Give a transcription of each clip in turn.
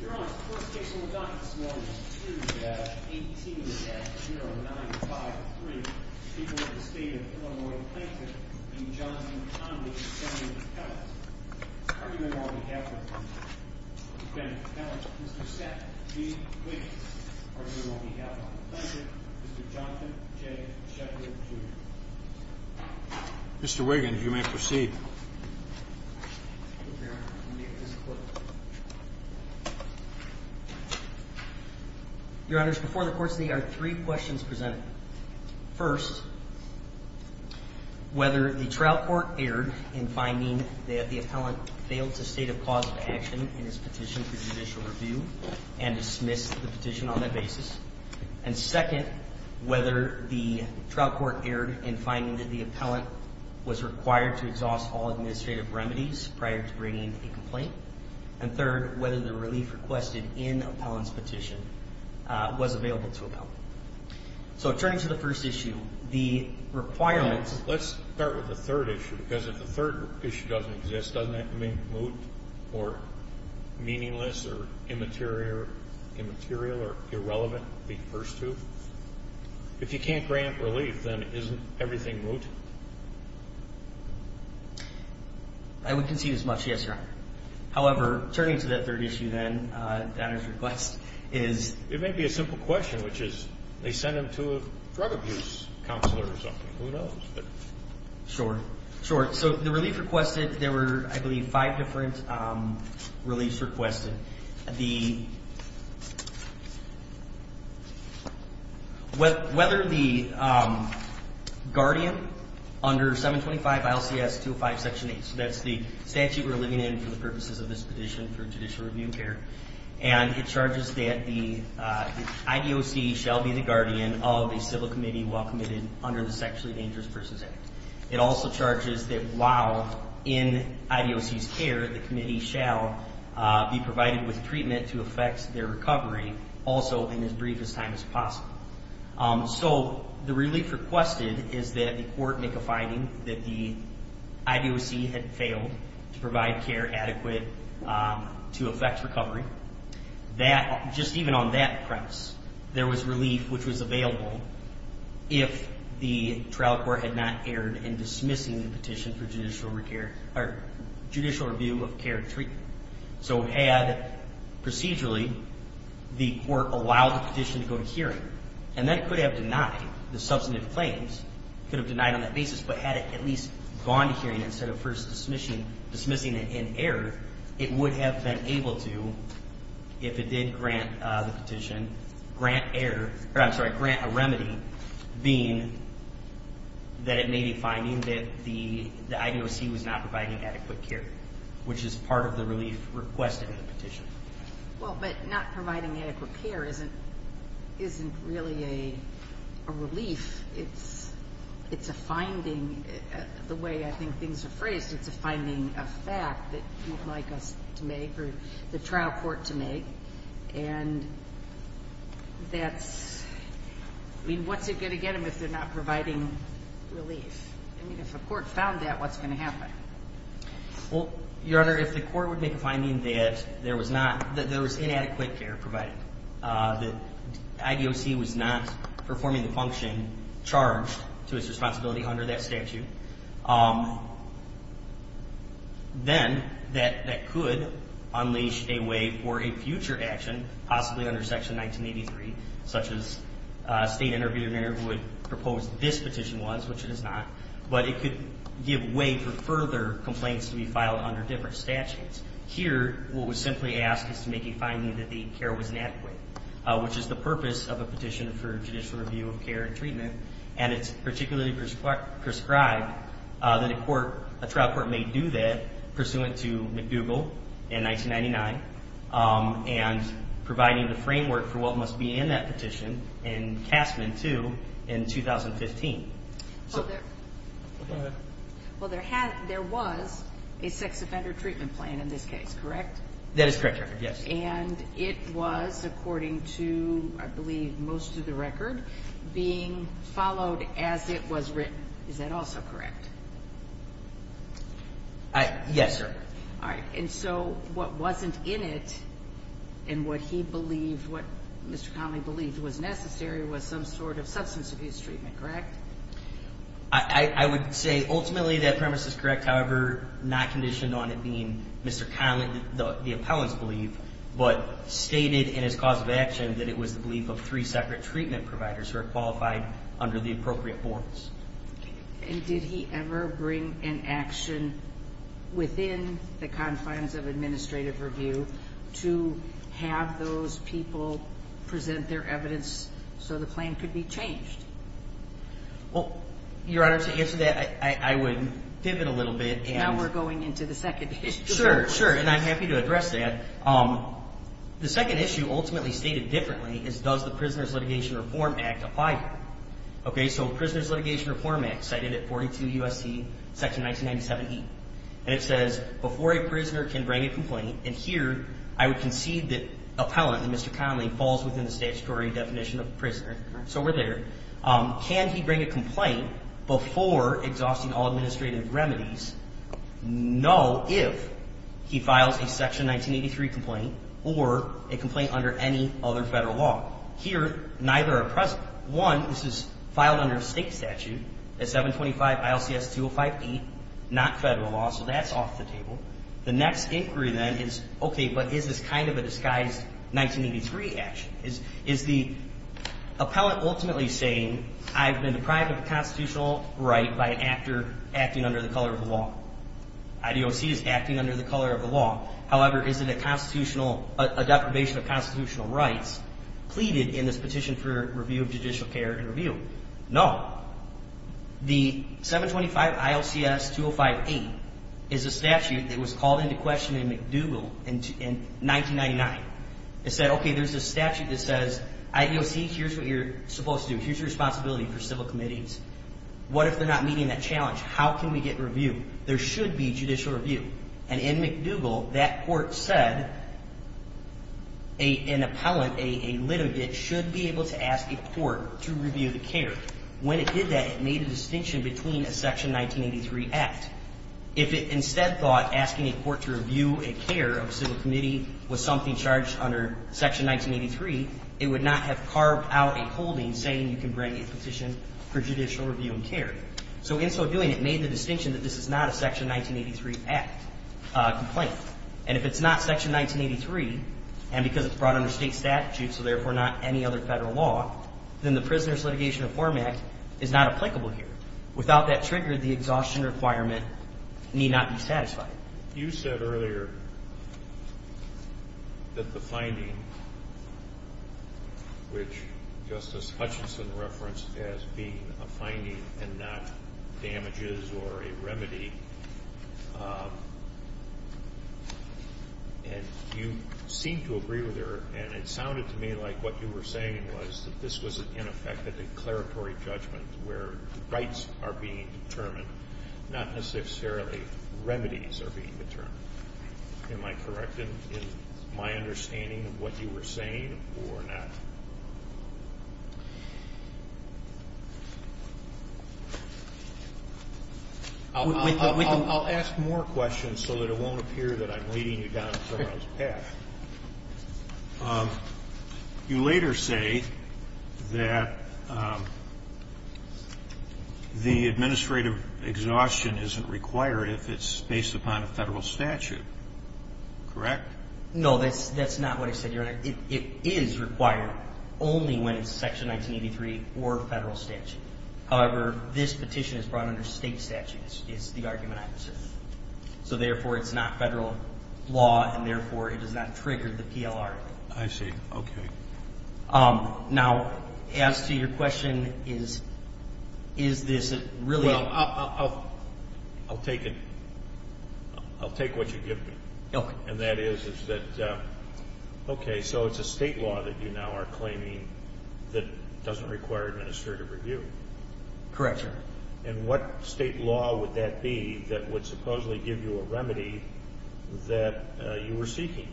You're on. First case on the docket this morning is 2-18-0953. People of the state of Illinois, Plankton v. Johnston, Conley v. Bennett-Pellett. Argument on behalf of Mr. Bennett-Pellett, Mr. Seth G. Wiggins. Argument on behalf of Plankton, Mr. Johnston J. Sheppard Jr. Mr. Wiggins, you may proceed. Your Honor, before the court today are three questions presented. First, whether the trial court erred in finding that the appellant failed to state a cause of action in his petition for judicial review and dismissed the petition on that basis. And second, whether the trial court erred in finding that the appellant was required to exhaust all administrative remedies prior to bringing a complaint. And third, whether the relief requested in the appellant's petition was available to the appellant. So turning to the first issue, the requirements... Let's start with the third issue, because if the third issue doesn't exist, doesn't that make moot or meaningless or immaterial or irrelevant, the first two? If you can't grant relief, then isn't everything moot? I would concede as much, yes, Your Honor. However, turning to that third issue then, that is request, is... It may be a simple question, which is, they sent him to a drug abuse counselor or something. Who knows? Sure. Sure. So the relief requested, there were, I believe, five different reliefs requested. The... Whether the guardian under 725 ILCS 205, Section 8, so that's the statute we're living in for the purposes of this petition for judicial review and care, and it charges that the IDOC shall be the guardian of a civil committee while committed under the Sexually Dangerous Persons Act. It also charges that while in IDOC's care, the committee shall be provided with treatment to affect their recovery also in as brief a time as possible. So the relief requested is that the court make a finding that the IDOC had failed to provide care adequate to affect recovery. That, just even on that premise, there was relief which was available if the trial court had not erred in dismissing the petition for judicial review of care and treatment. So had, procedurally, the court allowed the petition to go to hearing, and that could have denied, the substantive claims could have denied on that basis, but had it at least gone to hearing instead of first dismissing it in error, it would have been able to, if it did grant the petition, grant error, or I'm sorry, grant a remedy, being that it may be finding that the IDOC was not providing adequate care, which is part of the relief requested in the petition. Well, but not providing adequate care isn't really a relief. It's a finding. The way I think things are phrased, it's a finding of fact that you'd like us to make or the trial court to make, and that's, I mean, what's it going to get them if they're not providing relief? I mean, if a court found that, what's going to happen? Well, Your Honor, if the court would make a finding that there was not, that there was inadequate care provided, that IDOC was not performing the function charged to its responsibility under that statute, then that could unleash a way for a future action, possibly under Section 1983, such as a state interviewee would propose this petition was, which it is not, but it could give way for further complaints to be filed under different statutes. Here, what was simply asked is to make a finding that the care was inadequate, which is the purpose of a petition for judicial review of care and treatment, and it's particularly prescribed that a trial court may do that pursuant to McDougall in 1999 and providing the framework for what must be in that petition in CASMIN 2 in 2015. Well, there was a sex offender treatment plan in this case, correct? That is correct, Your Honor, yes. And it was, according to, I believe, most of the record, being followed as it was written. Yes, Your Honor. All right. And so what wasn't in it and what he believed, what Mr. Conley believed was necessary, was some sort of substance abuse treatment, correct? I would say ultimately that premise is correct. However, not conditioned on it being Mr. Conley, the appellant's belief, but stated in his cause of action that it was the belief of three separate treatment providers who are qualified under the appropriate boards. And did he ever bring an action within the confines of administrative review to have those people present their evidence so the plan could be changed? Well, Your Honor, to answer that, I would pivot a little bit. Now we're going into the second issue. Sure, sure, and I'm happy to address that. The second issue ultimately stated differently is does the Prisoner's Litigation Reform Act apply here? Okay, so Prisoner's Litigation Reform Act, cited at 42 U.S.C., Section 1997E, and it says before a prisoner can bring a complaint, and here I would concede that appellant, Mr. Conley, falls within the statutory definition of prisoner. So we're there. Can he bring a complaint before exhausting all administrative remedies? No, if he files a Section 1983 complaint or a complaint under any other federal law. Here, neither are present. One, this is filed under a state statute at 725 ILCS 205E, not federal law, so that's off the table. The next inquiry then is, okay, but is this kind of a disguised 1983 action? Is the appellant ultimately saying, I've been deprived of a constitutional right by an actor acting under the color of the law? IDOC is acting under the color of the law. However, is it a constitutional, a deprivation of constitutional rights? Pleaded in this petition for review of judicial care and review. No. The 725 ILCS 205E is a statute that was called into question in McDougal in 1999. It said, okay, there's a statute that says, IDOC, here's what you're supposed to do. Here's your responsibility for civil committees. What if they're not meeting that challenge? How can we get review? There should be judicial review. And in McDougal, that court said an appellant, a litigant, should be able to ask a court to review the care. When it did that, it made a distinction between a Section 1983 act. If it instead thought asking a court to review a care of a civil committee was something charged under Section 1983, it would not have carved out a holding saying you can bring a petition for judicial review and care. So in so doing, it made the distinction that this is not a Section 1983 act complaint. And if it's not Section 1983, and because it's brought under state statute, so therefore not any other Federal law, then the Prisoner's Litigation Reform Act is not applicable here. Without that trigger, the exhaustion requirement need not be satisfied. You said earlier that the finding, which Justice Hutchinson referenced as being a finding and not damages or a remedy, and you seemed to agree with her, and it sounded to me like what you were saying was that this was, in effect, a declaratory judgment where rights are being determined, not necessarily remedies are being determined. Am I correct in my understanding of what you were saying or not? I'll ask more questions so that it won't appear that I'm leading you down a wrong path. You later say that the administrative exhaustion isn't required if it's based upon a Federal statute. Correct? No, that's not what I said, Your Honor. It is required only when it's Section 1983 or Federal statute. However, this petition is brought under state statute. It's the argument I'm pursuing. So, therefore, it's not Federal law, and, therefore, it does not trigger the PLR. I see. Okay. Now, as to your question, is this really? Well, I'll take it. I'll take what you give me. Okay. And that is that, okay, so it's a state law that you now are claiming that doesn't require administrative review. Correct, Your Honor. And what state law would that be that would supposedly give you a remedy that you were seeking,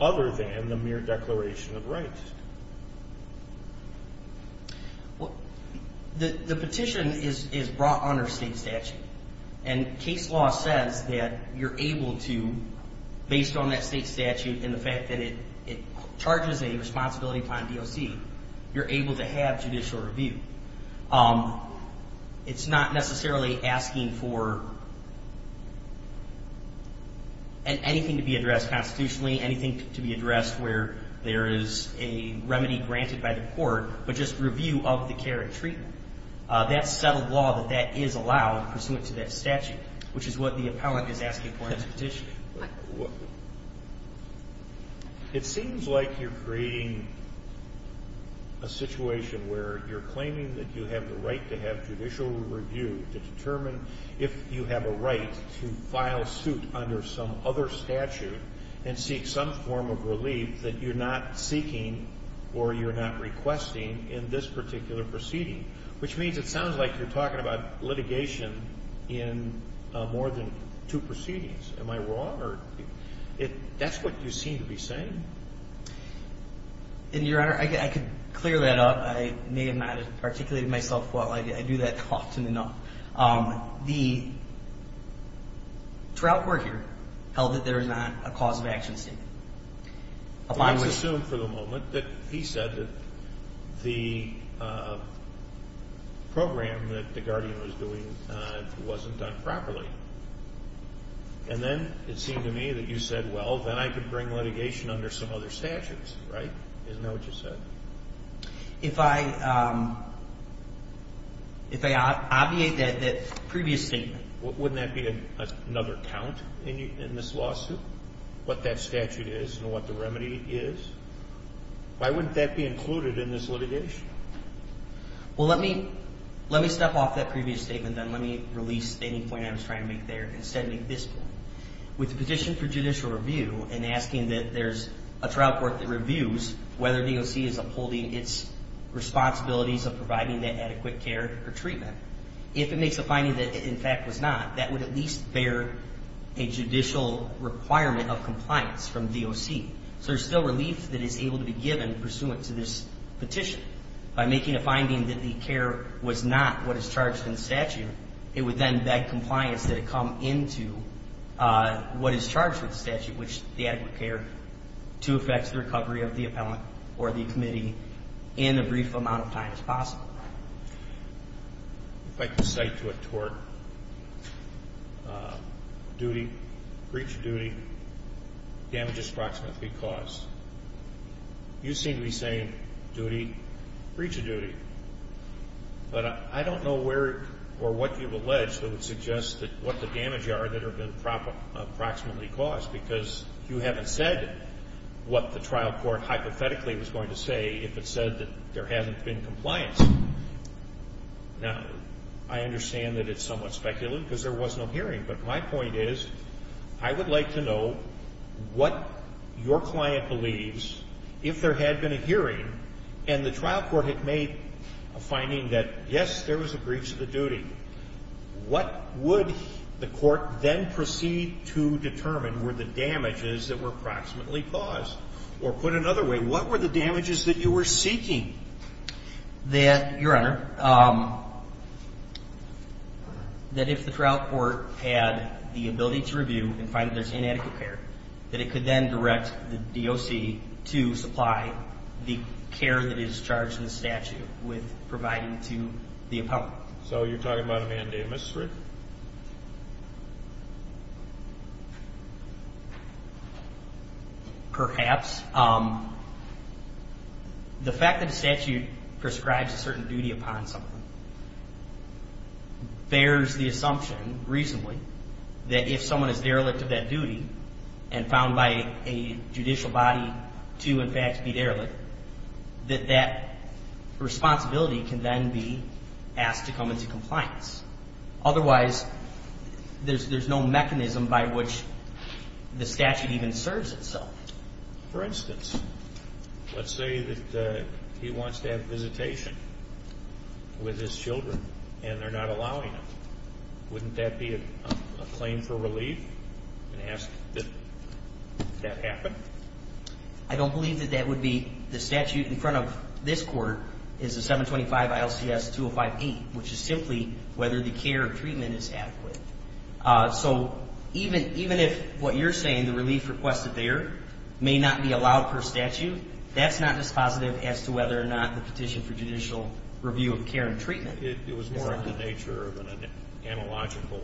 other than the mere declaration of rights? The petition is brought under state statute. And case law says that you're able to, based on that state statute and the fact that it charges a responsibility upon DOC, you're able to have judicial review. It's not necessarily asking for anything to be addressed constitutionally, anything to be addressed where there is a remedy granted by the court, but just review of the care and treatment. That's settled law that that is allowed pursuant to that statute, which is what the appellant is asking for in this petition. It seems like you're creating a situation where you're claiming that you have the right to have judicial review to determine if you have a right to file suit under some other statute and seek some form of relief that you're not seeking or you're not requesting in this particular proceeding, which means it sounds like you're talking about litigation in more than two proceedings. Am I wrong? That's what you seem to be saying. Your Honor, I could clear that up. I may have not articulated myself well. I do that often enough. The trial court here held that there is not a cause of action statement. Let's assume for the moment that he said that the program that the Guardian was doing wasn't done properly. And then it seemed to me that you said, well, then I could bring litigation under some other statutes. Right? Isn't that what you said? If I obviate that previous statement. Wouldn't that be another count in this lawsuit, what that statute is and what the remedy is? Why wouldn't that be included in this litigation? Well, let me step off that previous statement and let me release any point I was trying to make there and instead make this point. With the petition for judicial review and asking that there's a trial court that reviews whether DOC is upholding its responsibilities of providing that adequate care or treatment, if it makes a finding that it in fact was not, that would at least bear a judicial requirement of compliance from DOC. So there's still relief that is able to be given pursuant to this petition. By making a finding that the care was not what is charged in the statute, it would then beg compliance that it come into what is charged with the statute, which is the adequate care to effect the recovery of the appellant or the committee in a brief amount of time as possible. If I can cite to a tort, duty, breach of duty, damages approximately caused. You seem to be saying duty, breach of duty. But I don't know where or what you've alleged that would suggest what the damage are that have been approximately caused because you haven't said what the trial court hypothetically was going to say if it said that there hasn't been compliance. Now, I understand that it's somewhat speculative because there was no hearing. But my point is I would like to know what your client believes if there had been a hearing and the trial court had made a finding that, yes, there was a breach of the duty. What would the court then proceed to determine were the damages that were approximately caused? Or put another way, what were the damages that you were seeking? That, Your Honor, that if the trial court had the ability to review and find that there's inadequate care, that it could then direct the DOC to supply the care that is charged in the statute with providing to the appellant. So you're talking about a mandate, Mr. Strick? Perhaps. The fact that the statute prescribes a certain duty upon someone bears the assumption reasonably that if someone is derelict of that duty and found by a judicial body to, in fact, be derelict, that that responsibility can then be asked to come into compliance. Otherwise, there's no mechanism by which the statute even serves itself. For instance, let's say that he wants to have visitation with his children and they're not allowing him. Wouldn't that be a claim for relief and ask that that happen? I don't believe that that would be. The statute in front of this court is the 725 ILCS 2058, which is simply whether the care or treatment is adequate. So even if what you're saying, the relief requested there, may not be allowed per statute, that's not dispositive as to whether or not the petition for judicial review of care and treatment is allowed. It was more of the nature of an analogical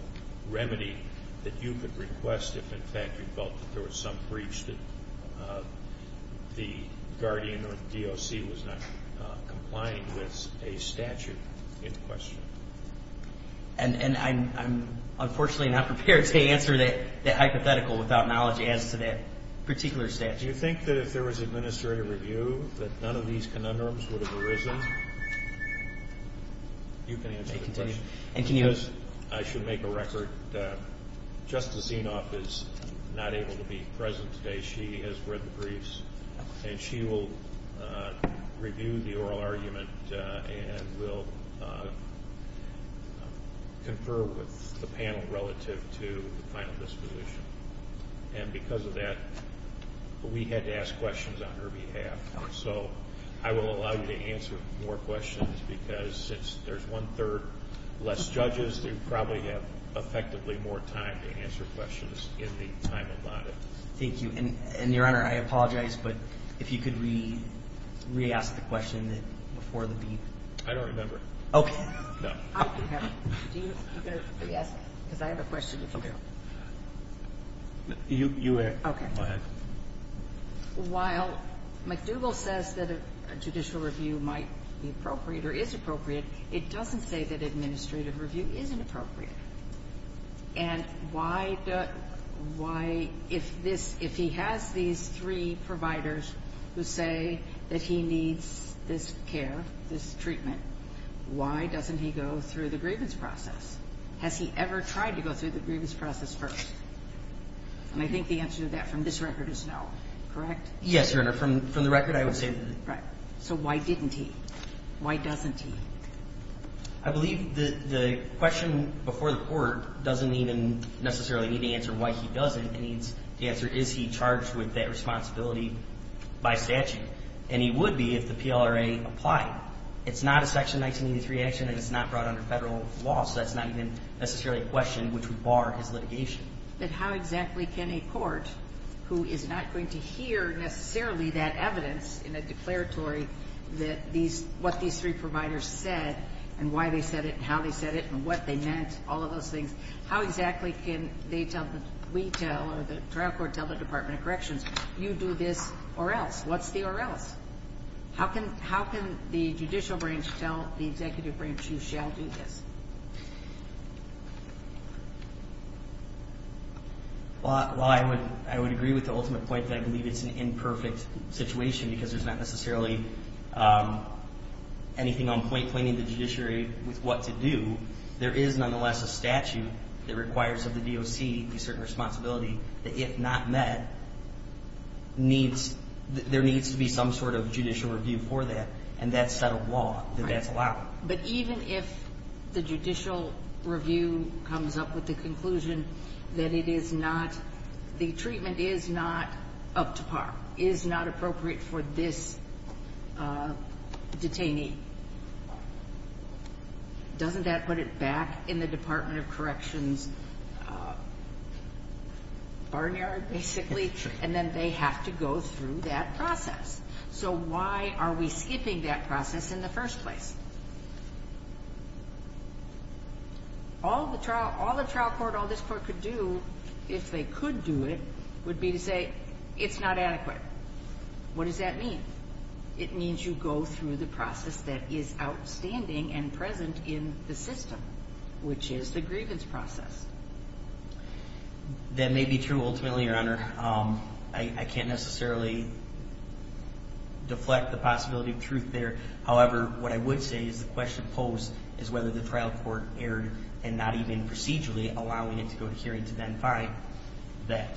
remedy that you could request if, in fact, you felt that there was some breach that the guardian or the DOC was not complying with a statute in question. And I'm unfortunately not prepared to answer that hypothetical without knowledge as to that particular statute. Do you think that if there was administrative review that none of these conundrums would have arisen? You can answer the question. And can you? Because I should make a record, Justice Zinoff is not able to be present today. She has read the briefs and she will review the oral argument and will confer with the panel relative to the final disposition. And because of that, we had to ask questions on her behalf. So I will allow you to answer more questions because since there's one-third less judges, you probably have effectively more time to answer questions in the time allotted. Thank you. And, Your Honor, I apologize, but if you could re-ask the question before the brief. I don't remember. Okay. No. You can re-ask it because I have a question. Okay. You may. Okay. Go ahead. While McDougall says that a judicial review might be appropriate or is appropriate, it doesn't say that administrative review isn't appropriate. And why does why, if this, if he has these three providers who say that he needs this care, this treatment, why doesn't he go through the grievance process? Has he ever tried to go through the grievance process first? And I think the answer to that from this record is no. Correct? Yes, Your Honor. From the record, I would say that. Right. So why didn't he? Why doesn't he? I believe the question before the court doesn't even necessarily need to answer why he doesn't. The answer is, is he charged with that responsibility by statute? And he would be if the PLRA applied. It's not a Section 1983 action and it's not brought under Federal law, so that's not even necessarily a question which would bar his litigation. But how exactly can a court who is not going to hear necessarily that evidence in a declaratory that these, what these three providers said and why they said it and how they said it and what they meant, all of those things, how exactly can they tell, we tell, or the trial court tell the Department of Corrections, you do this or else? What's the or else? How can the judicial branch tell the executive branch, you shall do this? Well, I would agree with the ultimate point that I believe it's an imperfect situation because there's not necessarily anything on point claiming the judiciary with what to do. There is nonetheless a statute that requires of the DOC a certain responsibility that if not met needs, there needs to be some sort of judicial review for that and that's set of law that that's allowed. Right. But even if the judicial review comes up with the conclusion that it is not, the treatment is not up to par, is not appropriate for this detainee, doesn't that put it back in the Department of Corrections' barnyard, basically? And then they have to go through that process. So why are we skipping that process in the first place? All the trial, all the trial court, all this court could do, if they could do it, would be to say it's not adequate. What does that mean? It means you go through the process that is outstanding and present in the system, which is the grievance process. That may be true ultimately, Your Honor. I can't necessarily deflect the possibility of truth there. However, what I would say is the question posed is whether the trial court erred and not even procedurally allowing it to go to hearing to then find that.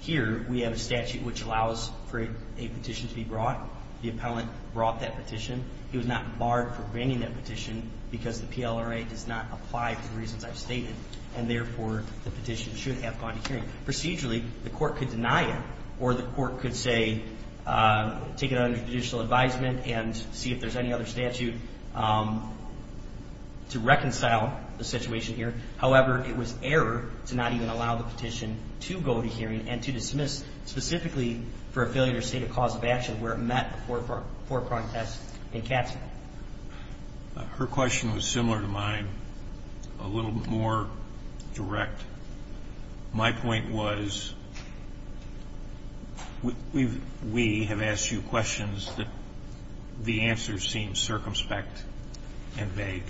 Here we have a statute which allows for a petition to be brought. The appellant brought that petition. He was not barred from bringing that petition because the PLRA does not apply to the reasons I've stated, and therefore the petition should have gone to hearing. Procedurally, the court could deny it, or the court could say take it under judicial advisement and see if there's any other statute to reconcile the situation here. However, it was error to not even allow the petition to go to hearing and to dismiss specifically for a failure to state a cause of action where it met the forefront test in Katzmann. Her question was similar to mine, a little more direct. My point was we have asked you questions that the answers seem circumspect and vague.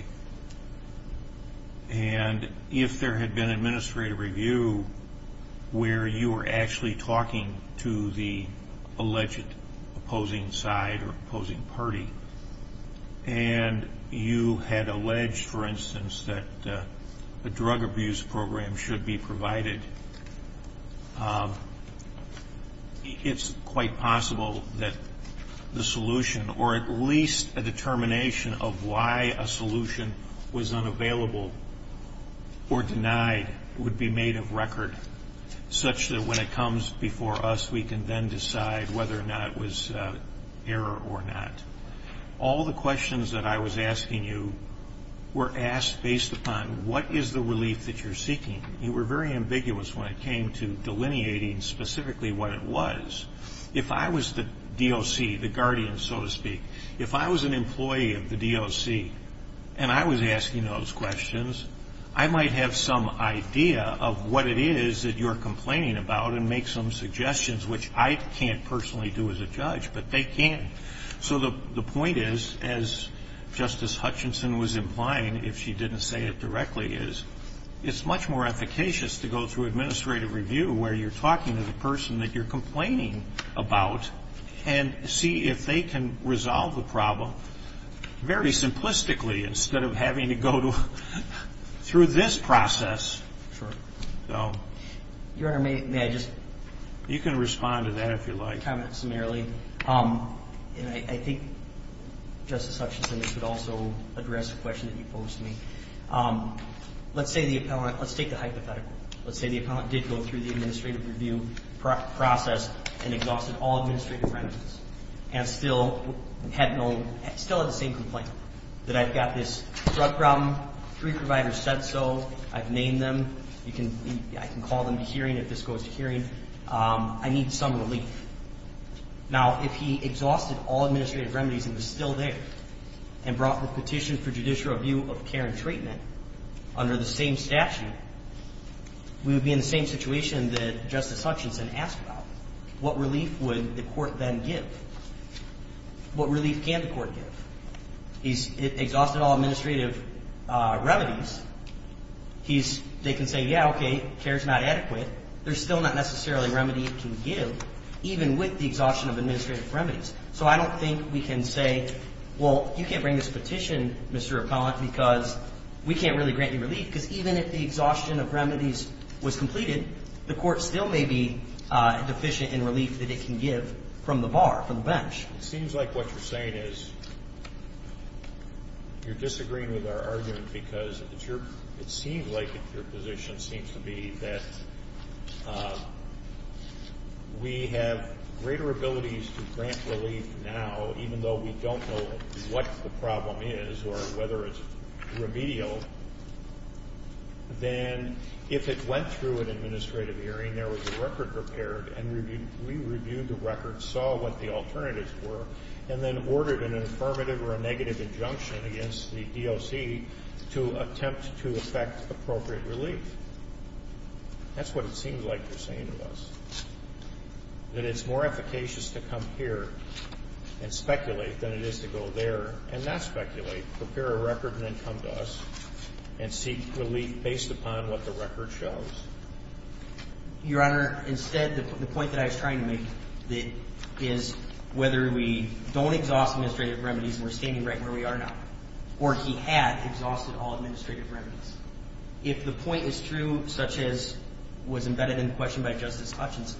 And if there had been administrative review where you were actually talking to the alleged opposing side or opposing party and you had alleged, for instance, that a drug abuse program should be provided, it's quite possible that the solution or at least a determination of why a solution was unavailable or denied would be made of record such that when it comes before us, we can then decide whether or not it was error or not. All the questions that I was asking you were asked based upon what is the relief that you're seeking. You were very ambiguous when it came to delineating specifically what it was. If I was the DOC, the guardian, so to speak, if I was an employee of the DOC and I was asking those questions, I might have some idea of what it is that you're complaining about and make some suggestions, which I can't personally do as a judge, but they can. So the point is, as Justice Hutchinson was implying, if she didn't say it directly, is it's much more efficacious to go through administrative review where you're talking to the person that you're complaining about and see if they can resolve the problem very simplistically instead of having to go through this process. Your Honor, may I just comment summarily? You can respond to that if you like. I think Justice Hutchinson could also address a question that you posed to me. Let's take the hypothetical. Let's say the appellant did go through the administrative review process and exhausted all administrative remedies and still had the same complaint that I've got this drug problem. Three providers said so. I've named them. I can call them to hearing if this goes to hearing. I need some relief. Now, if he exhausted all administrative remedies and was still there and brought the petition for judicial review of care and treatment under the same statute, we would be in the same situation that Justice Hutchinson asked about. What relief would the court then give? What relief can the court give? He's exhausted all administrative remedies. They can say, yeah, okay, care is not adequate. There's still not necessarily remedy it can give, even with the exhaustion of administrative remedies. So I don't think we can say, well, you can't bring this petition, Mr. Appellant, because we can't really grant you relief, because even if the exhaustion of remedies was completed, the court still may be deficient in relief that it can give from the bar, from the bench. It seems like what you're saying is you're disagreeing with our argument because it seems like your position seems to be that we have greater abilities to grant relief now, even though we don't know what the problem is or whether it's remedial, than if it went through an administrative hearing, there was a record prepared, and we reviewed the record, saw what the alternatives were, and then ordered an affirmative or a negative injunction against the DOC to attempt to effect appropriate relief. That's what it seems like you're saying to us, that it's more efficacious to come here and speculate than it is to go there and not speculate, prepare a record, and then come to us and seek relief based upon what the record shows. Your Honor, instead, the point that I was trying to make is whether we don't exhaust administrative remedies and we're standing right where we are now, or he had exhausted all administrative remedies. If the point is true, such as was embedded in the question by Justice Hutchinson,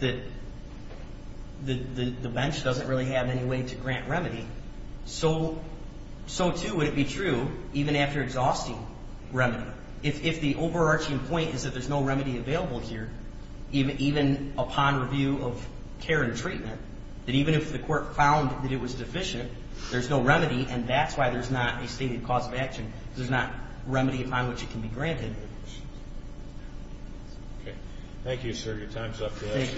that the bench doesn't really have any way to grant remedy, so too would it be true even after exhausting remedy. If the overarching point is that there's no remedy available here, even upon review of care and treatment, that even if the court found that it was deficient, there's no remedy, and that's why there's not a stated cause of action. There's not remedy upon which it can be granted. Okay. Thank you, sir. Your time's up. Thank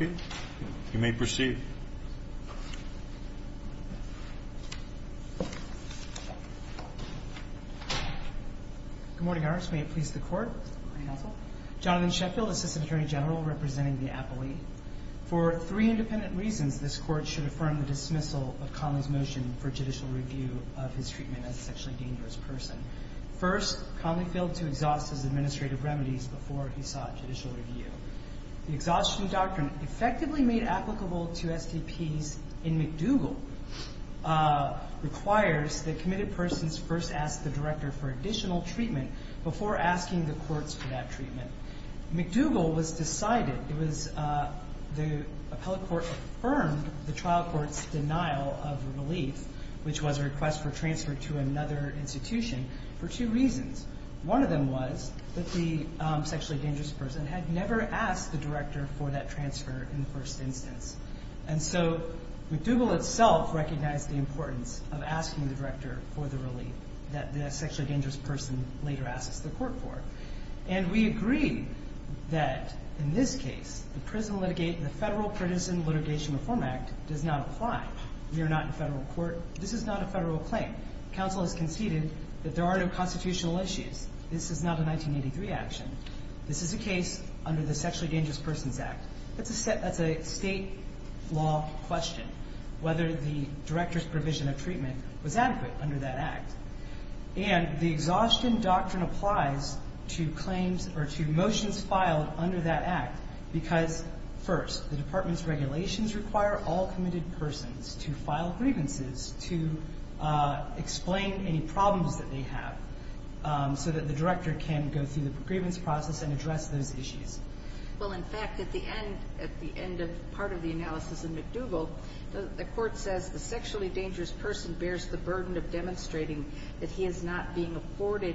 you. You may proceed. Good morning, Your Honor. May it please the Court. Good morning, counsel. Jonathan Sheffield, Assistant Attorney General, representing the appellee. For three independent reasons, this Court should affirm the dismissal of Connell's motion for judicial review of his treatment as a sexually dangerous person. First, Connell failed to exhaust his administrative remedies before he sought judicial review. The exhaustion doctrine effectively made applicable to STPs in McDougall requires that committed persons first ask the director for additional treatment before asking the courts for that treatment. McDougall was decided. It was the appellate court affirmed the trial court's denial of relief, which was a request for transfer to another institution, for two reasons. One of them was that the sexually dangerous person had never asked the director for that transfer in the first instance. And so McDougall itself recognized the importance of asking the director for the relief that the sexually dangerous person later asks the court for. And we agree that, in this case, the Federal Prison Litigation Reform Act does not apply. We are not in Federal court. This is not a Federal claim. Counsel has conceded that there are no constitutional issues. This is not a 1983 action. This is a case under the Sexually Dangerous Persons Act. That's a State law question, whether the director's provision of treatment was adequate under that Act. And the exhaustion doctrine applies to claims or to motions filed under that Act because, first, the department's regulations require all committed persons to file grievances to explain any problems that they have so that the director can go through the grievance process and address those issues. Well, in fact, at the end of part of the analysis in McDougall, the court says the sexually dangerous person bears the burden of demonstrating that he is not being afforded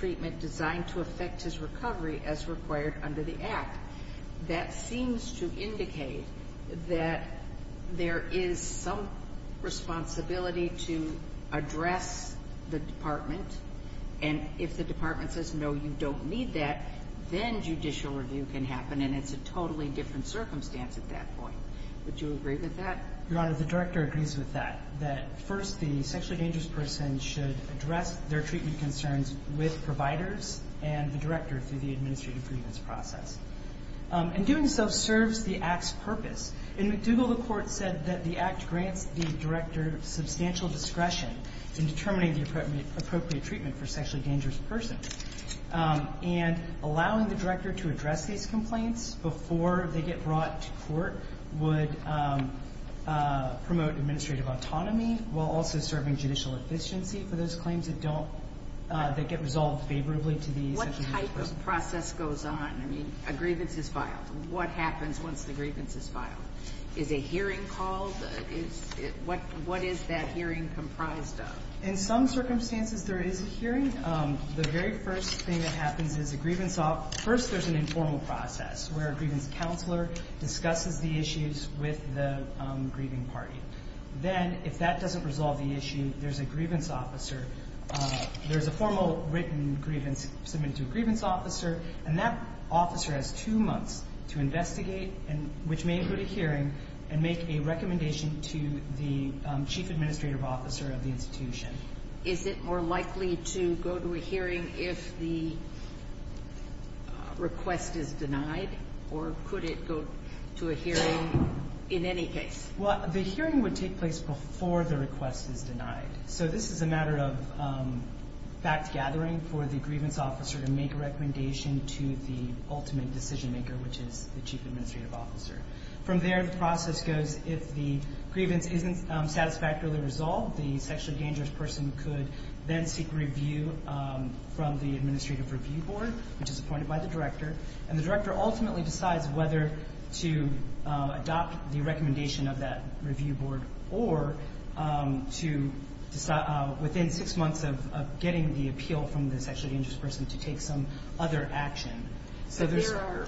treatment designed to affect his recovery as required under the Act. That seems to indicate that there is some responsibility to address the department. And if the department says, no, you don't need that, then judicial review can happen, and it's a totally different circumstance at that point. Would you agree with that? Your Honor, the director agrees with that, that, first, the sexually dangerous person should address their treatment concerns with providers and the director through the administrative grievance process. And doing so serves the Act's purpose. In McDougall, the court said that the Act grants the director substantial discretion in determining the appropriate treatment for a sexually dangerous person. And allowing the director to address these complaints before they get brought to court would promote administrative autonomy while also serving judicial efficiency for those claims that get resolved favorably to the sexually dangerous person. What type of process goes on? I mean, a grievance is filed. What happens once the grievance is filed? Is a hearing called? What is that hearing comprised of? In some circumstances, there is a hearing. The very first thing that happens is a grievance, first, there's an informal process where a grievance counselor discusses the issues with the grieving party. Then, if that doesn't resolve the issue, there's a grievance officer. There's a formal written grievance submitted to a grievance officer, and that officer has two months to investigate, which may include a hearing, and make a recommendation to the chief administrative officer of the institution. Is it more likely to go to a hearing if the request is denied? Or could it go to a hearing in any case? Well, the hearing would take place before the request is denied. So this is a matter of fact gathering for the grievance officer to make a recommendation to the ultimate decision maker, which is the chief administrative officer. From there, the process goes, if the grievance isn't satisfactorily resolved, the sexually dangerous person could then seek review from the administrative review board, which is appointed by the director, and the director ultimately decides whether to adopt the recommendation of that review board or to decide within six months of getting the appeal from the sexually dangerous person to take some other action. So there are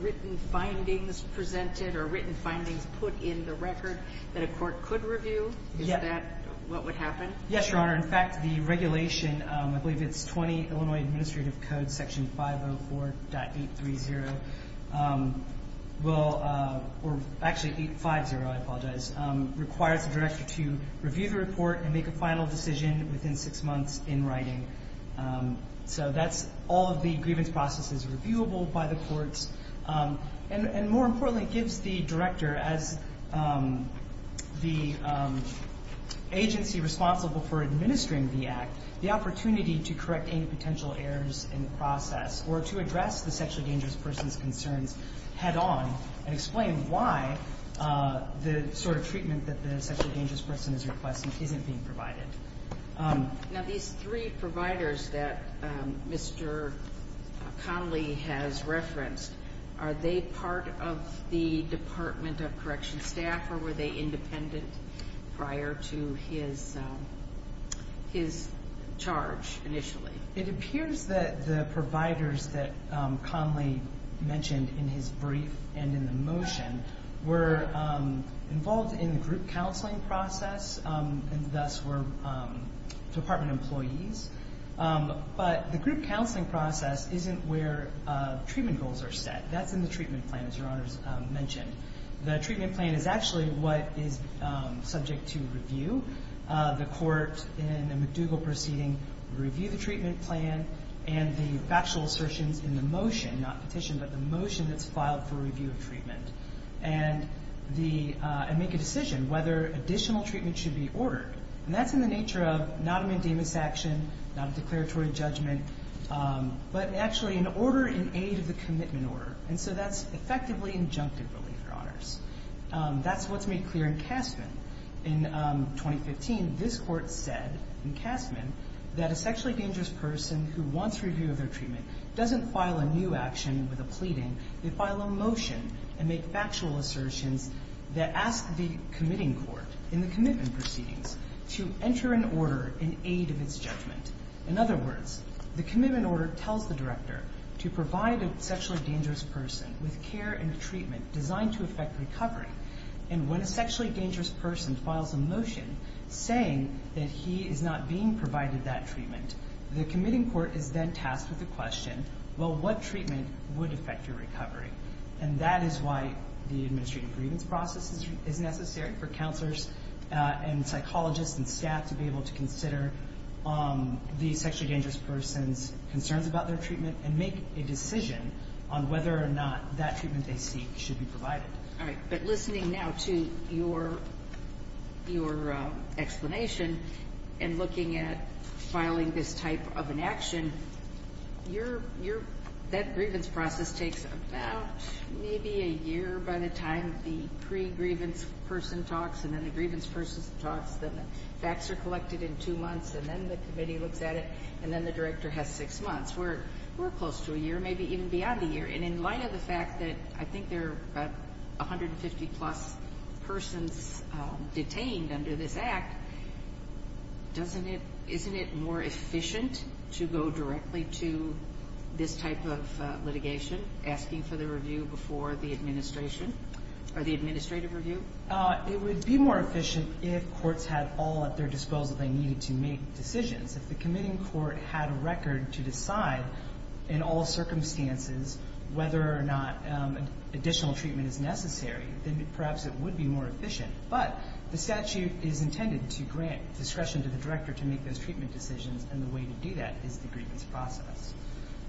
written findings presented or written findings put in the record that a court could review? Is that what would happen? Yes, Your Honor. In fact, the regulation, I believe it's 20 Illinois Administrative Code Section 504.830, or actually 850, I apologize, requires the director to review the report and make a final decision within six months in writing. So that's all of the grievance processes reviewable by the courts, And more importantly, it gives the director, as the agency responsible for administering the act, the opportunity to correct any potential errors in the process or to address the sexually dangerous person's concerns head on and explain why the sort of treatment that the sexually dangerous person is requesting isn't being provided. Now these three providers that Mr. Connolly has referenced, are they part of the Department of Corrections staff or were they independent prior to his charge initially? It appears that the providers that Connolly mentioned in his brief and in the motion were involved in the group counseling process and thus were department employees. But the group counseling process isn't where treatment goals are set. That's in the treatment plan, as Your Honor's mentioned. The treatment plan is actually what is subject to review. The court in the McDougall proceeding reviewed the treatment plan and the factual assertions in the motion, not petition, but the motion that's filed for review of treatment, and make a decision whether additional treatment should be ordered. And that's in the nature of not an indemnus action, not a declaratory judgment, but actually an order in aid of the commitment order. And so that's effectively injunctive relief, Your Honors. That's what's made clear in Castman. In 2015, this court said in Castman that a sexually dangerous person who wants review of their treatment doesn't file a new action with a pleading. They file a motion and make factual assertions that ask the committing court in the commitment proceedings to enter an order in aid of its judgment. In other words, the commitment order tells the director to provide a sexually dangerous person with care and treatment designed to affect recovery. And when a sexually dangerous person files a motion saying that he is not being provided that treatment, the committing court is then tasked with the question, well, what treatment would affect your recovery? And that is why the administrative grievance process is necessary for counselors and psychologists and staff to be able to consider the sexually dangerous person's concerns about their treatment and make a decision on whether or not that treatment they seek should be provided. All right, but listening now to your explanation and looking at filing this type of an action, that grievance process takes about maybe a year by the time the pre-grievance person talks and then the grievance person talks, then the facts are collected in two months, and then the committee looks at it, and then the director has six months. We're close to a year, maybe even beyond a year. And in light of the fact that I think there are about 150-plus persons detained under this Act, isn't it more efficient to go directly to this type of litigation, asking for the review before the administration or the administrative review? It would be more efficient if courts had all at their disposal they needed to make decisions. If the committing court had a record to decide in all circumstances whether or not additional treatment is necessary, then perhaps it would be more efficient. But the statute is intended to grant discretion to the director to make those treatment decisions, and the way to do that is the grievance process.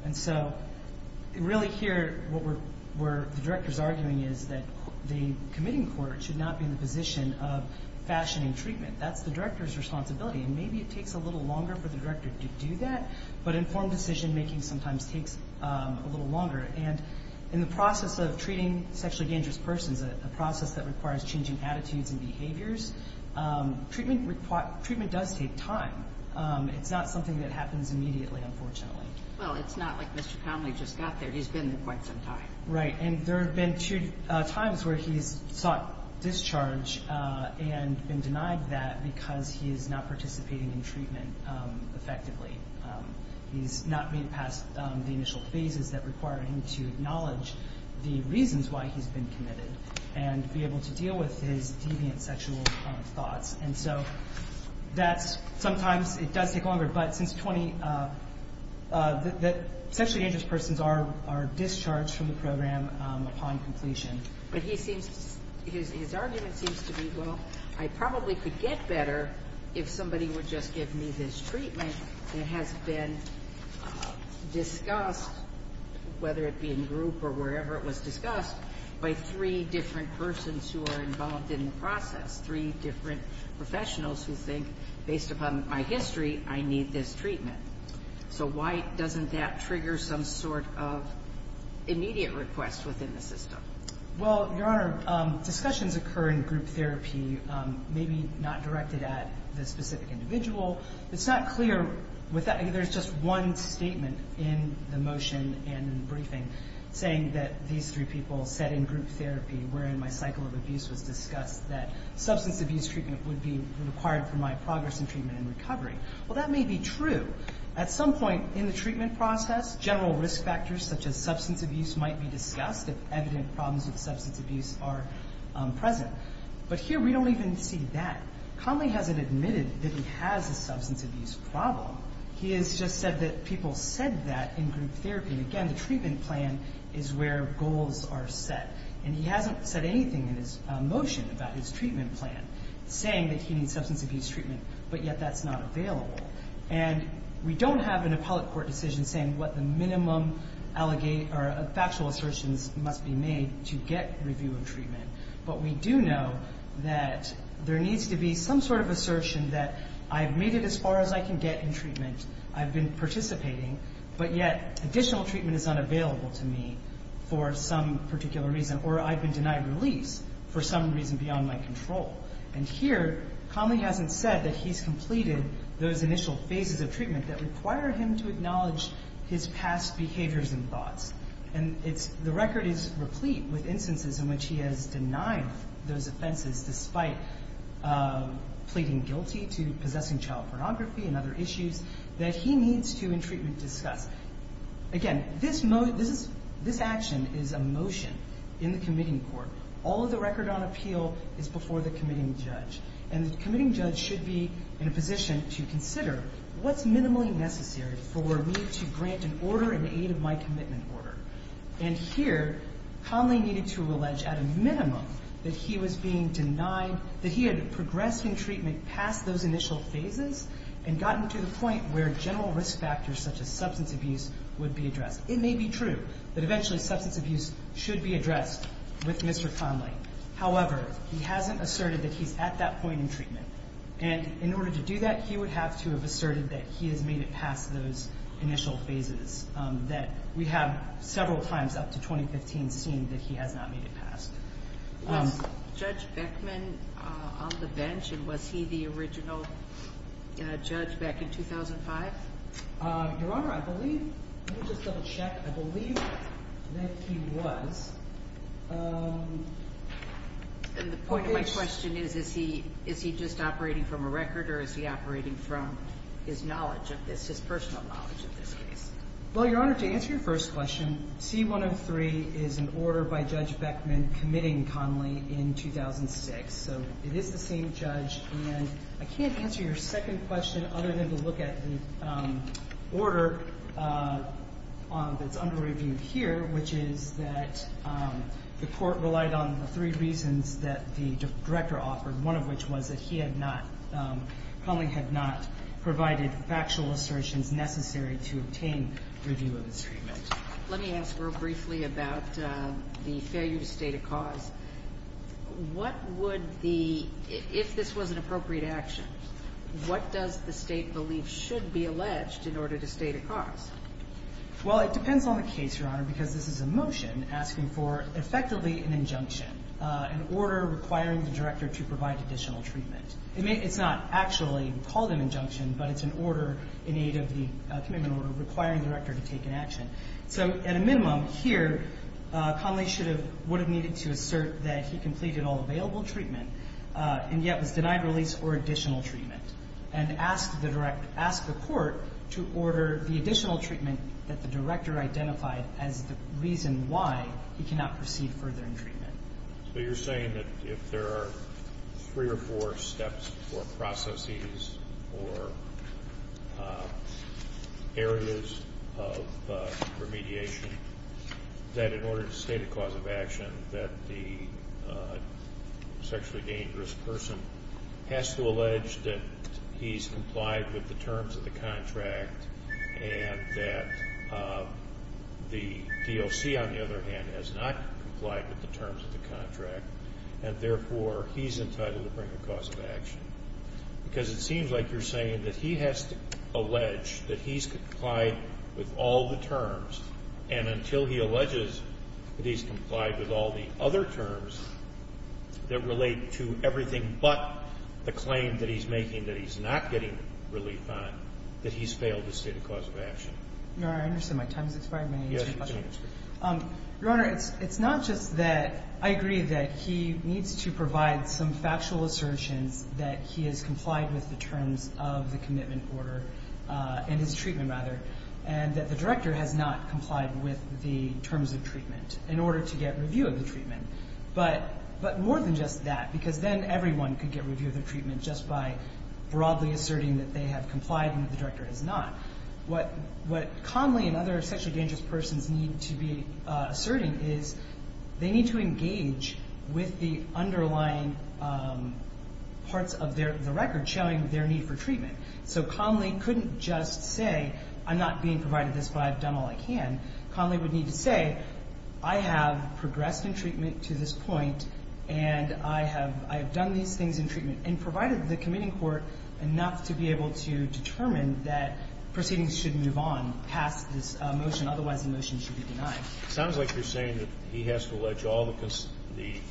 And so really here what the director's arguing is that the committing court should not be in the position of fashioning treatment. That's the director's responsibility, and maybe it takes a little longer for the director to do that, but informed decision-making sometimes takes a little longer. And in the process of treating sexually dangerous persons, it is a process that requires changing attitudes and behaviors. Treatment does take time. It's not something that happens immediately, unfortunately. Well, it's not like Mr. Connolly just got there. He's been there quite some time. Right, and there have been times where he's sought discharge and been denied that because he is not participating in treatment effectively. He's not made it past the initial phases that require him to acknowledge the reasons why he's been committed and be able to deal with his deviant sexual thoughts. And so sometimes it does take longer, but sexually dangerous persons are discharged from the program upon completion. But his argument seems to be, well, I probably could get better if somebody would just give me this treatment I think that has been discussed, whether it be in group or wherever it was discussed, by three different persons who are involved in the process, three different professionals who think, based upon my history, I need this treatment. So why doesn't that trigger some sort of immediate request within the system? Well, Your Honor, discussions occur in group therapy, maybe not directed at the specific individual. It's not clear with that. There's just one statement in the motion and in the briefing saying that these three people said in group therapy, wherein my cycle of abuse was discussed, that substance abuse treatment would be required for my progress in treatment and recovery. Well, that may be true. At some point in the treatment process, general risk factors such as substance abuse might be discussed if evident problems with substance abuse are present. But here we don't even see that. Conley hasn't admitted that he has a substance abuse problem. He has just said that people said that in group therapy. And again, the treatment plan is where goals are set. And he hasn't said anything in his motion about his treatment plan saying that he needs substance abuse treatment, but yet that's not available. And we don't have an appellate court decision saying what the minimum factual assertions must be made to get review of treatment. But we do know that there needs to be some sort of assertion that I've made it as far as I can get in treatment, I've been participating, but yet additional treatment is unavailable to me for some particular reason, or I've been denied release for some reason beyond my control. And here Conley hasn't said that he's completed those initial phases of treatment that require him to acknowledge his past behaviors and thoughts. And the record is replete with instances in which he has denied those offenses despite pleading guilty to possessing child pornography and other issues that he needs to, in treatment, discuss. Again, this action is a motion in the committing court. All of the record on appeal is before the committing judge. And the committing judge should be in a position to consider what's minimally necessary for me to grant an order in aid of my commitment order. And here Conley needed to allege at a minimum that he was being denied, that he had progressed in treatment past those initial phases and gotten to the point where general risk factors such as substance abuse would be addressed. It may be true that eventually substance abuse should be addressed with Mr. Conley. However, he hasn't asserted that he's at that point in treatment. And in order to do that, he would have to have asserted that he has made it past those initial phases that we have several times up to 2015 seen that he has not made it past. Was Judge Beckman on the bench and was he the original judge back in 2005? Your Honor, I believe, let me just double check. I believe that he was. And the point of my question is, is he just operating from a record or is he operating from his knowledge of this, his personal knowledge of this case? Well, Your Honor, to answer your first question, C-103 is an order by Judge Beckman committing Conley in 2006. So it is the same judge. And I can't answer your second question other than to look at the order that's under review here, which is that the court relied on the three reasons that the director offered, one of which was that he had not, Conley had not provided factual assertions necessary to obtain review of his treatment. Let me ask real briefly about the failure to state a cause. What would the, if this was an appropriate action, what does the State believe should be alleged in order to state a cause? Well, it depends on the case, Your Honor, because this is a motion asking for effectively an injunction, an order requiring the director to provide additional treatment. It's not actually called an injunction, but it's an order in aid of the commitment order requiring the director to take an action. So at a minimum here, Conley should have, would have needed to assert that he completed all available treatment and yet was denied release or additional treatment and ask the court to order the additional treatment that the director identified as the reason why he cannot proceed further in treatment. So you're saying that if there are three or four steps or processes or areas of remediation, that in order to state a cause of action, that the sexually dangerous person has to allege that he's complied with the terms of the contract and that the DOC, on the other hand, has not complied with the terms of the contract and therefore he's entitled to bring a cause of action? Because it seems like you're saying that he has to allege that he's complied with all the terms and until he alleges that he's complied with all the other terms that relate to everything but the claim that he's making that he's not getting relief on, that he's failed to state a cause of action. No, I understand. My time has expired. May I answer your question? Yes, please do. Your Honor, it's not just that I agree that he needs to provide some factual assertions that he has complied with the terms of the commitment order and his treatment, and that the director has not complied with the terms of treatment in order to get review of the treatment. But more than just that, because then everyone could get review of the treatment just by broadly asserting that they have complied and the director has not. What Conley and other sexually dangerous persons need to be asserting is they need to engage with the underlying parts of the record showing their need for treatment. So Conley couldn't just say, I'm not being provided this but I've done all I can. Conley would need to say, I have progressed in treatment to this point and I have done these things in treatment and provided the committing court enough to be able to determine that proceedings should move on past this motion, otherwise the motion should be denied. It sounds like you're saying that he has to allege all the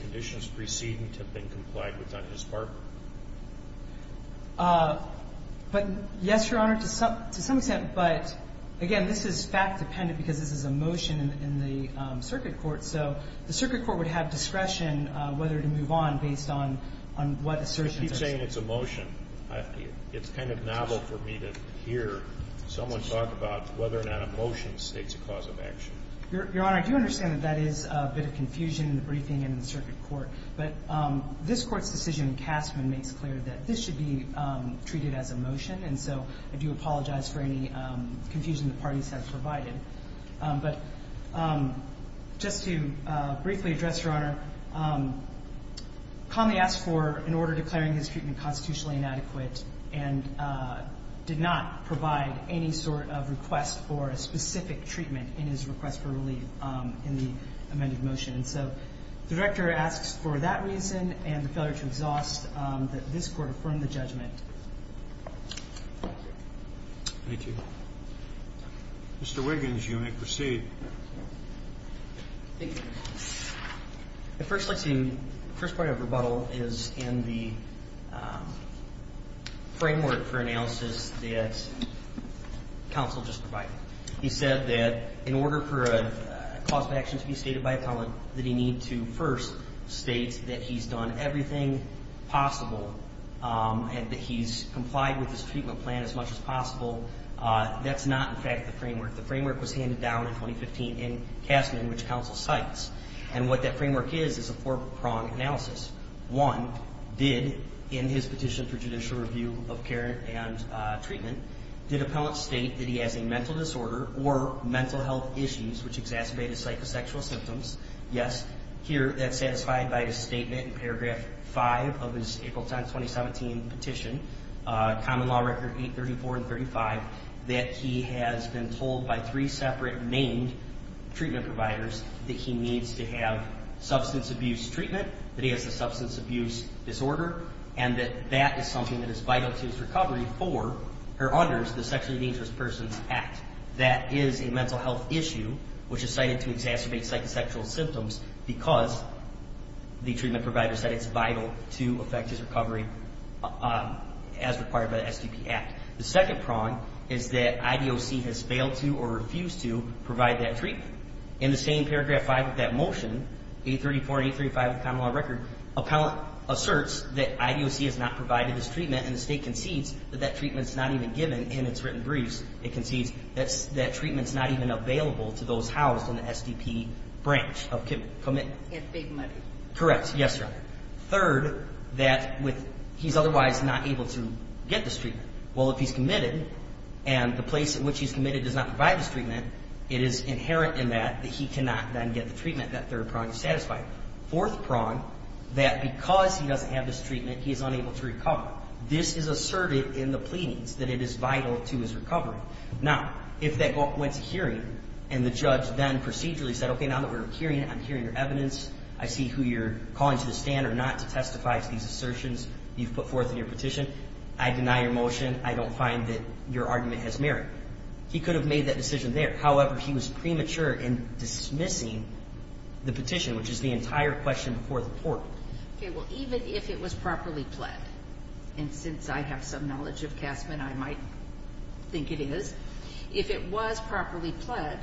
conditions preceding to have been complied with on his part. But, yes, Your Honor, to some extent. But, again, this is fact-dependent because this is a motion in the circuit court. So the circuit court would have discretion whether to move on based on what assertion. You keep saying it's a motion. It's kind of novel for me to hear someone talk about whether or not a motion states a cause of action. Your Honor, I do understand that that is a bit of confusion in the briefing and in the circuit court. But this Court's decision in Castman makes clear that this should be treated as a motion. And so I do apologize for any confusion the parties have provided. But just to briefly address, Your Honor, Conley asked for an order declaring his treatment constitutionally inadequate and did not provide any sort of request for a specific treatment in his request for relief in the amended motion. And so the Director asks for that reason and the failure to exhaust that this Court affirm the judgment. Thank you. Mr. Wiggins, you may proceed. Thank you, Your Honor. The first part of rebuttal is in the framework for analysis that counsel just provided. He said that in order for a cause of action to be stated by appellant that he need to first state that he's done everything possible and that he's complied with his treatment plan as much as possible. That's not, in fact, the framework. The framework was handed down in 2015 in Castman, which counsel cites. And what that framework is is a four-prong analysis. One, did in his petition for judicial review of care and treatment, did appellant state that he has a mental disorder or mental health issues which exacerbate his psychosexual symptoms? Yes. Here, that's satisfied by his statement in paragraph 5 of his April 10, 2017 petition, Common Law Record 834 and 835, that he has been told by three separate named treatment providers that he needs to have substance abuse treatment, that he has a substance abuse disorder, and that that is something that is vital to his recovery under the Sexually Dangerous Persons Act. That is a mental health issue which is cited to exacerbate psychosexual symptoms because the treatment provider said it's vital to affect his recovery as required by the SDP Act. The second prong is that IDOC has failed to or refused to provide that treatment. In the same paragraph 5 of that motion, 834 and 835 of the Common Law Record, appellant asserts that IDOC has not provided this treatment, and the State concedes that that treatment's not even given in its written briefs. It concedes that treatment's not even available to those housed in the SDP branch of commitment. And big money. Correct. Yes, Your Honor. Third, that he's otherwise not able to get this treatment. Well, if he's committed and the place at which he's committed does not provide this treatment, it is inherent in that that he cannot then get the treatment. That third prong is satisfied. Fourth prong, that because he doesn't have this treatment, he is unable to recover. This is asserted in the pleadings that it is vital to his recovery. Now, if that went to hearing and the judge then procedurally said, okay, now that we're hearing it, I'm hearing your evidence, I see who you're calling to the stand or not to testify to these assertions you've put forth in your petition, I deny your motion, I don't find that your argument has merit, he could have made that decision there. However, he was premature in dismissing the petition, which is the entire question before the court. Okay. Well, even if it was properly pled, and since I have some knowledge of Casman, I might think it is, if it was properly pled,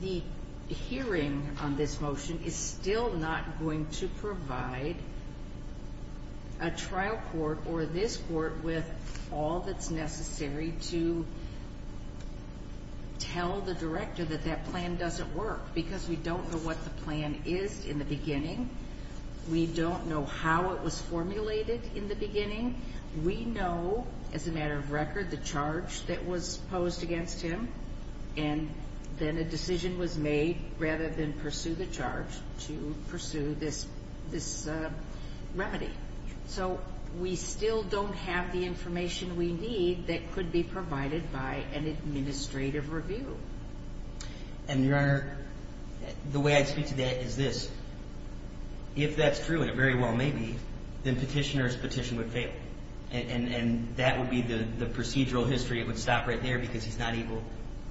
the hearing on this motion is still not going to provide a trial court or this court with all that's necessary to tell the director that that plan doesn't work because we don't know what the plan is in the beginning. We don't know how it was formulated in the beginning. We know, as a matter of record, the charge that was posed against him, and then a decision was made rather than pursue the charge to pursue this remedy. So we still don't have the information we need that could be provided by an administrative review. And, Your Honor, the way I speak to that is this. If that's true, and it very well may be, then petitioner's petition would fail. And that would be the procedural history. It would stop right there because he's not able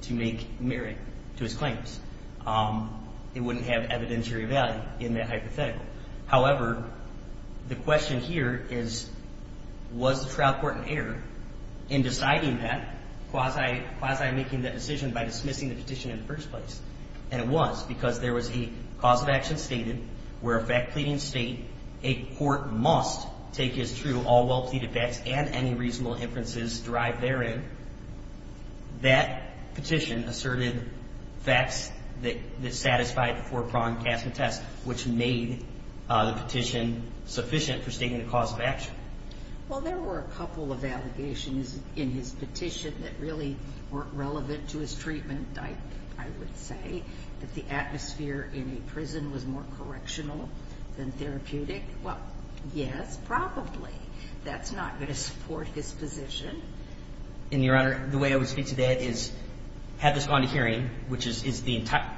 to make merit to his claims. It wouldn't have evidentiary value in that hypothetical. However, the question here is, was the trial court in error in deciding that, quasi-making that decision by dismissing the petition in the first place? And it was because there was a cause of action stated where a fact-pleading state, a court must take as true all well-pleaded facts and any reasonable inferences derived therein. That petition asserted facts that satisfied the four-pronged CASMA test, which made the petition sufficient for stating the cause of action. Well, there were a couple of allegations in his petition that really weren't relevant to his treatment, and I would say that the atmosphere in a prison was more correctional than therapeutic. Well, yes, probably. That's not going to support his position. And, Your Honor, the way I would speak to that is, had this gone to hearing, which is the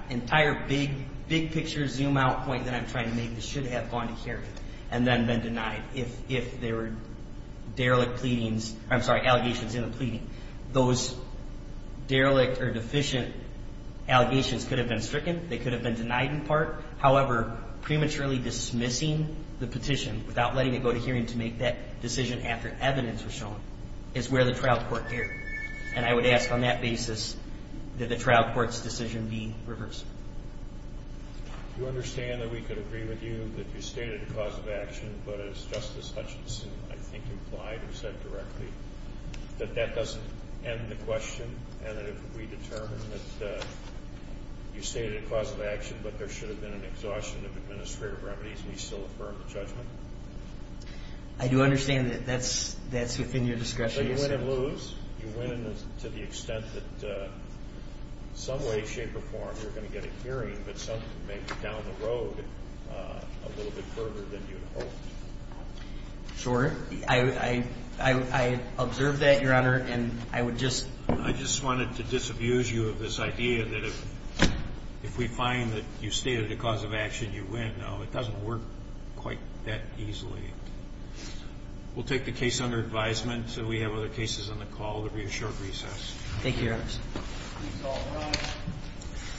entire big-picture zoom-out point that I'm trying to make, this should have gone to hearing and then been denied if there were derelict pleadings. I'm sorry, allegations in the pleading. Those derelict or deficient allegations could have been stricken. They could have been denied in part. However, prematurely dismissing the petition without letting it go to hearing to make that decision after evidence was shown is where the trial court erred. And I would ask on that basis that the trial court's decision be reversed. Do you understand that we could agree with you that you stated a cause of action, but as Justice Hutchinson, I think, implied and said directly, that that doesn't end the question and that if we determine that you stated a cause of action but there should have been an exhaustion of administrative remedies, we still affirm the judgment? I do understand that that's within your discretion. So you win and lose. You win to the extent that some way, shape, or form you're going to get a hearing, but something may be down the road a little bit further than you'd hoped. Sure. I observe that, Your Honor, and I would just ---- I just wanted to disabuse you of this idea that if we find that you stated a cause of action, you win. No, it doesn't work quite that easily. We'll take the case under advisement until we have other cases on the call at the reassured recess. Thank you, Your Honor.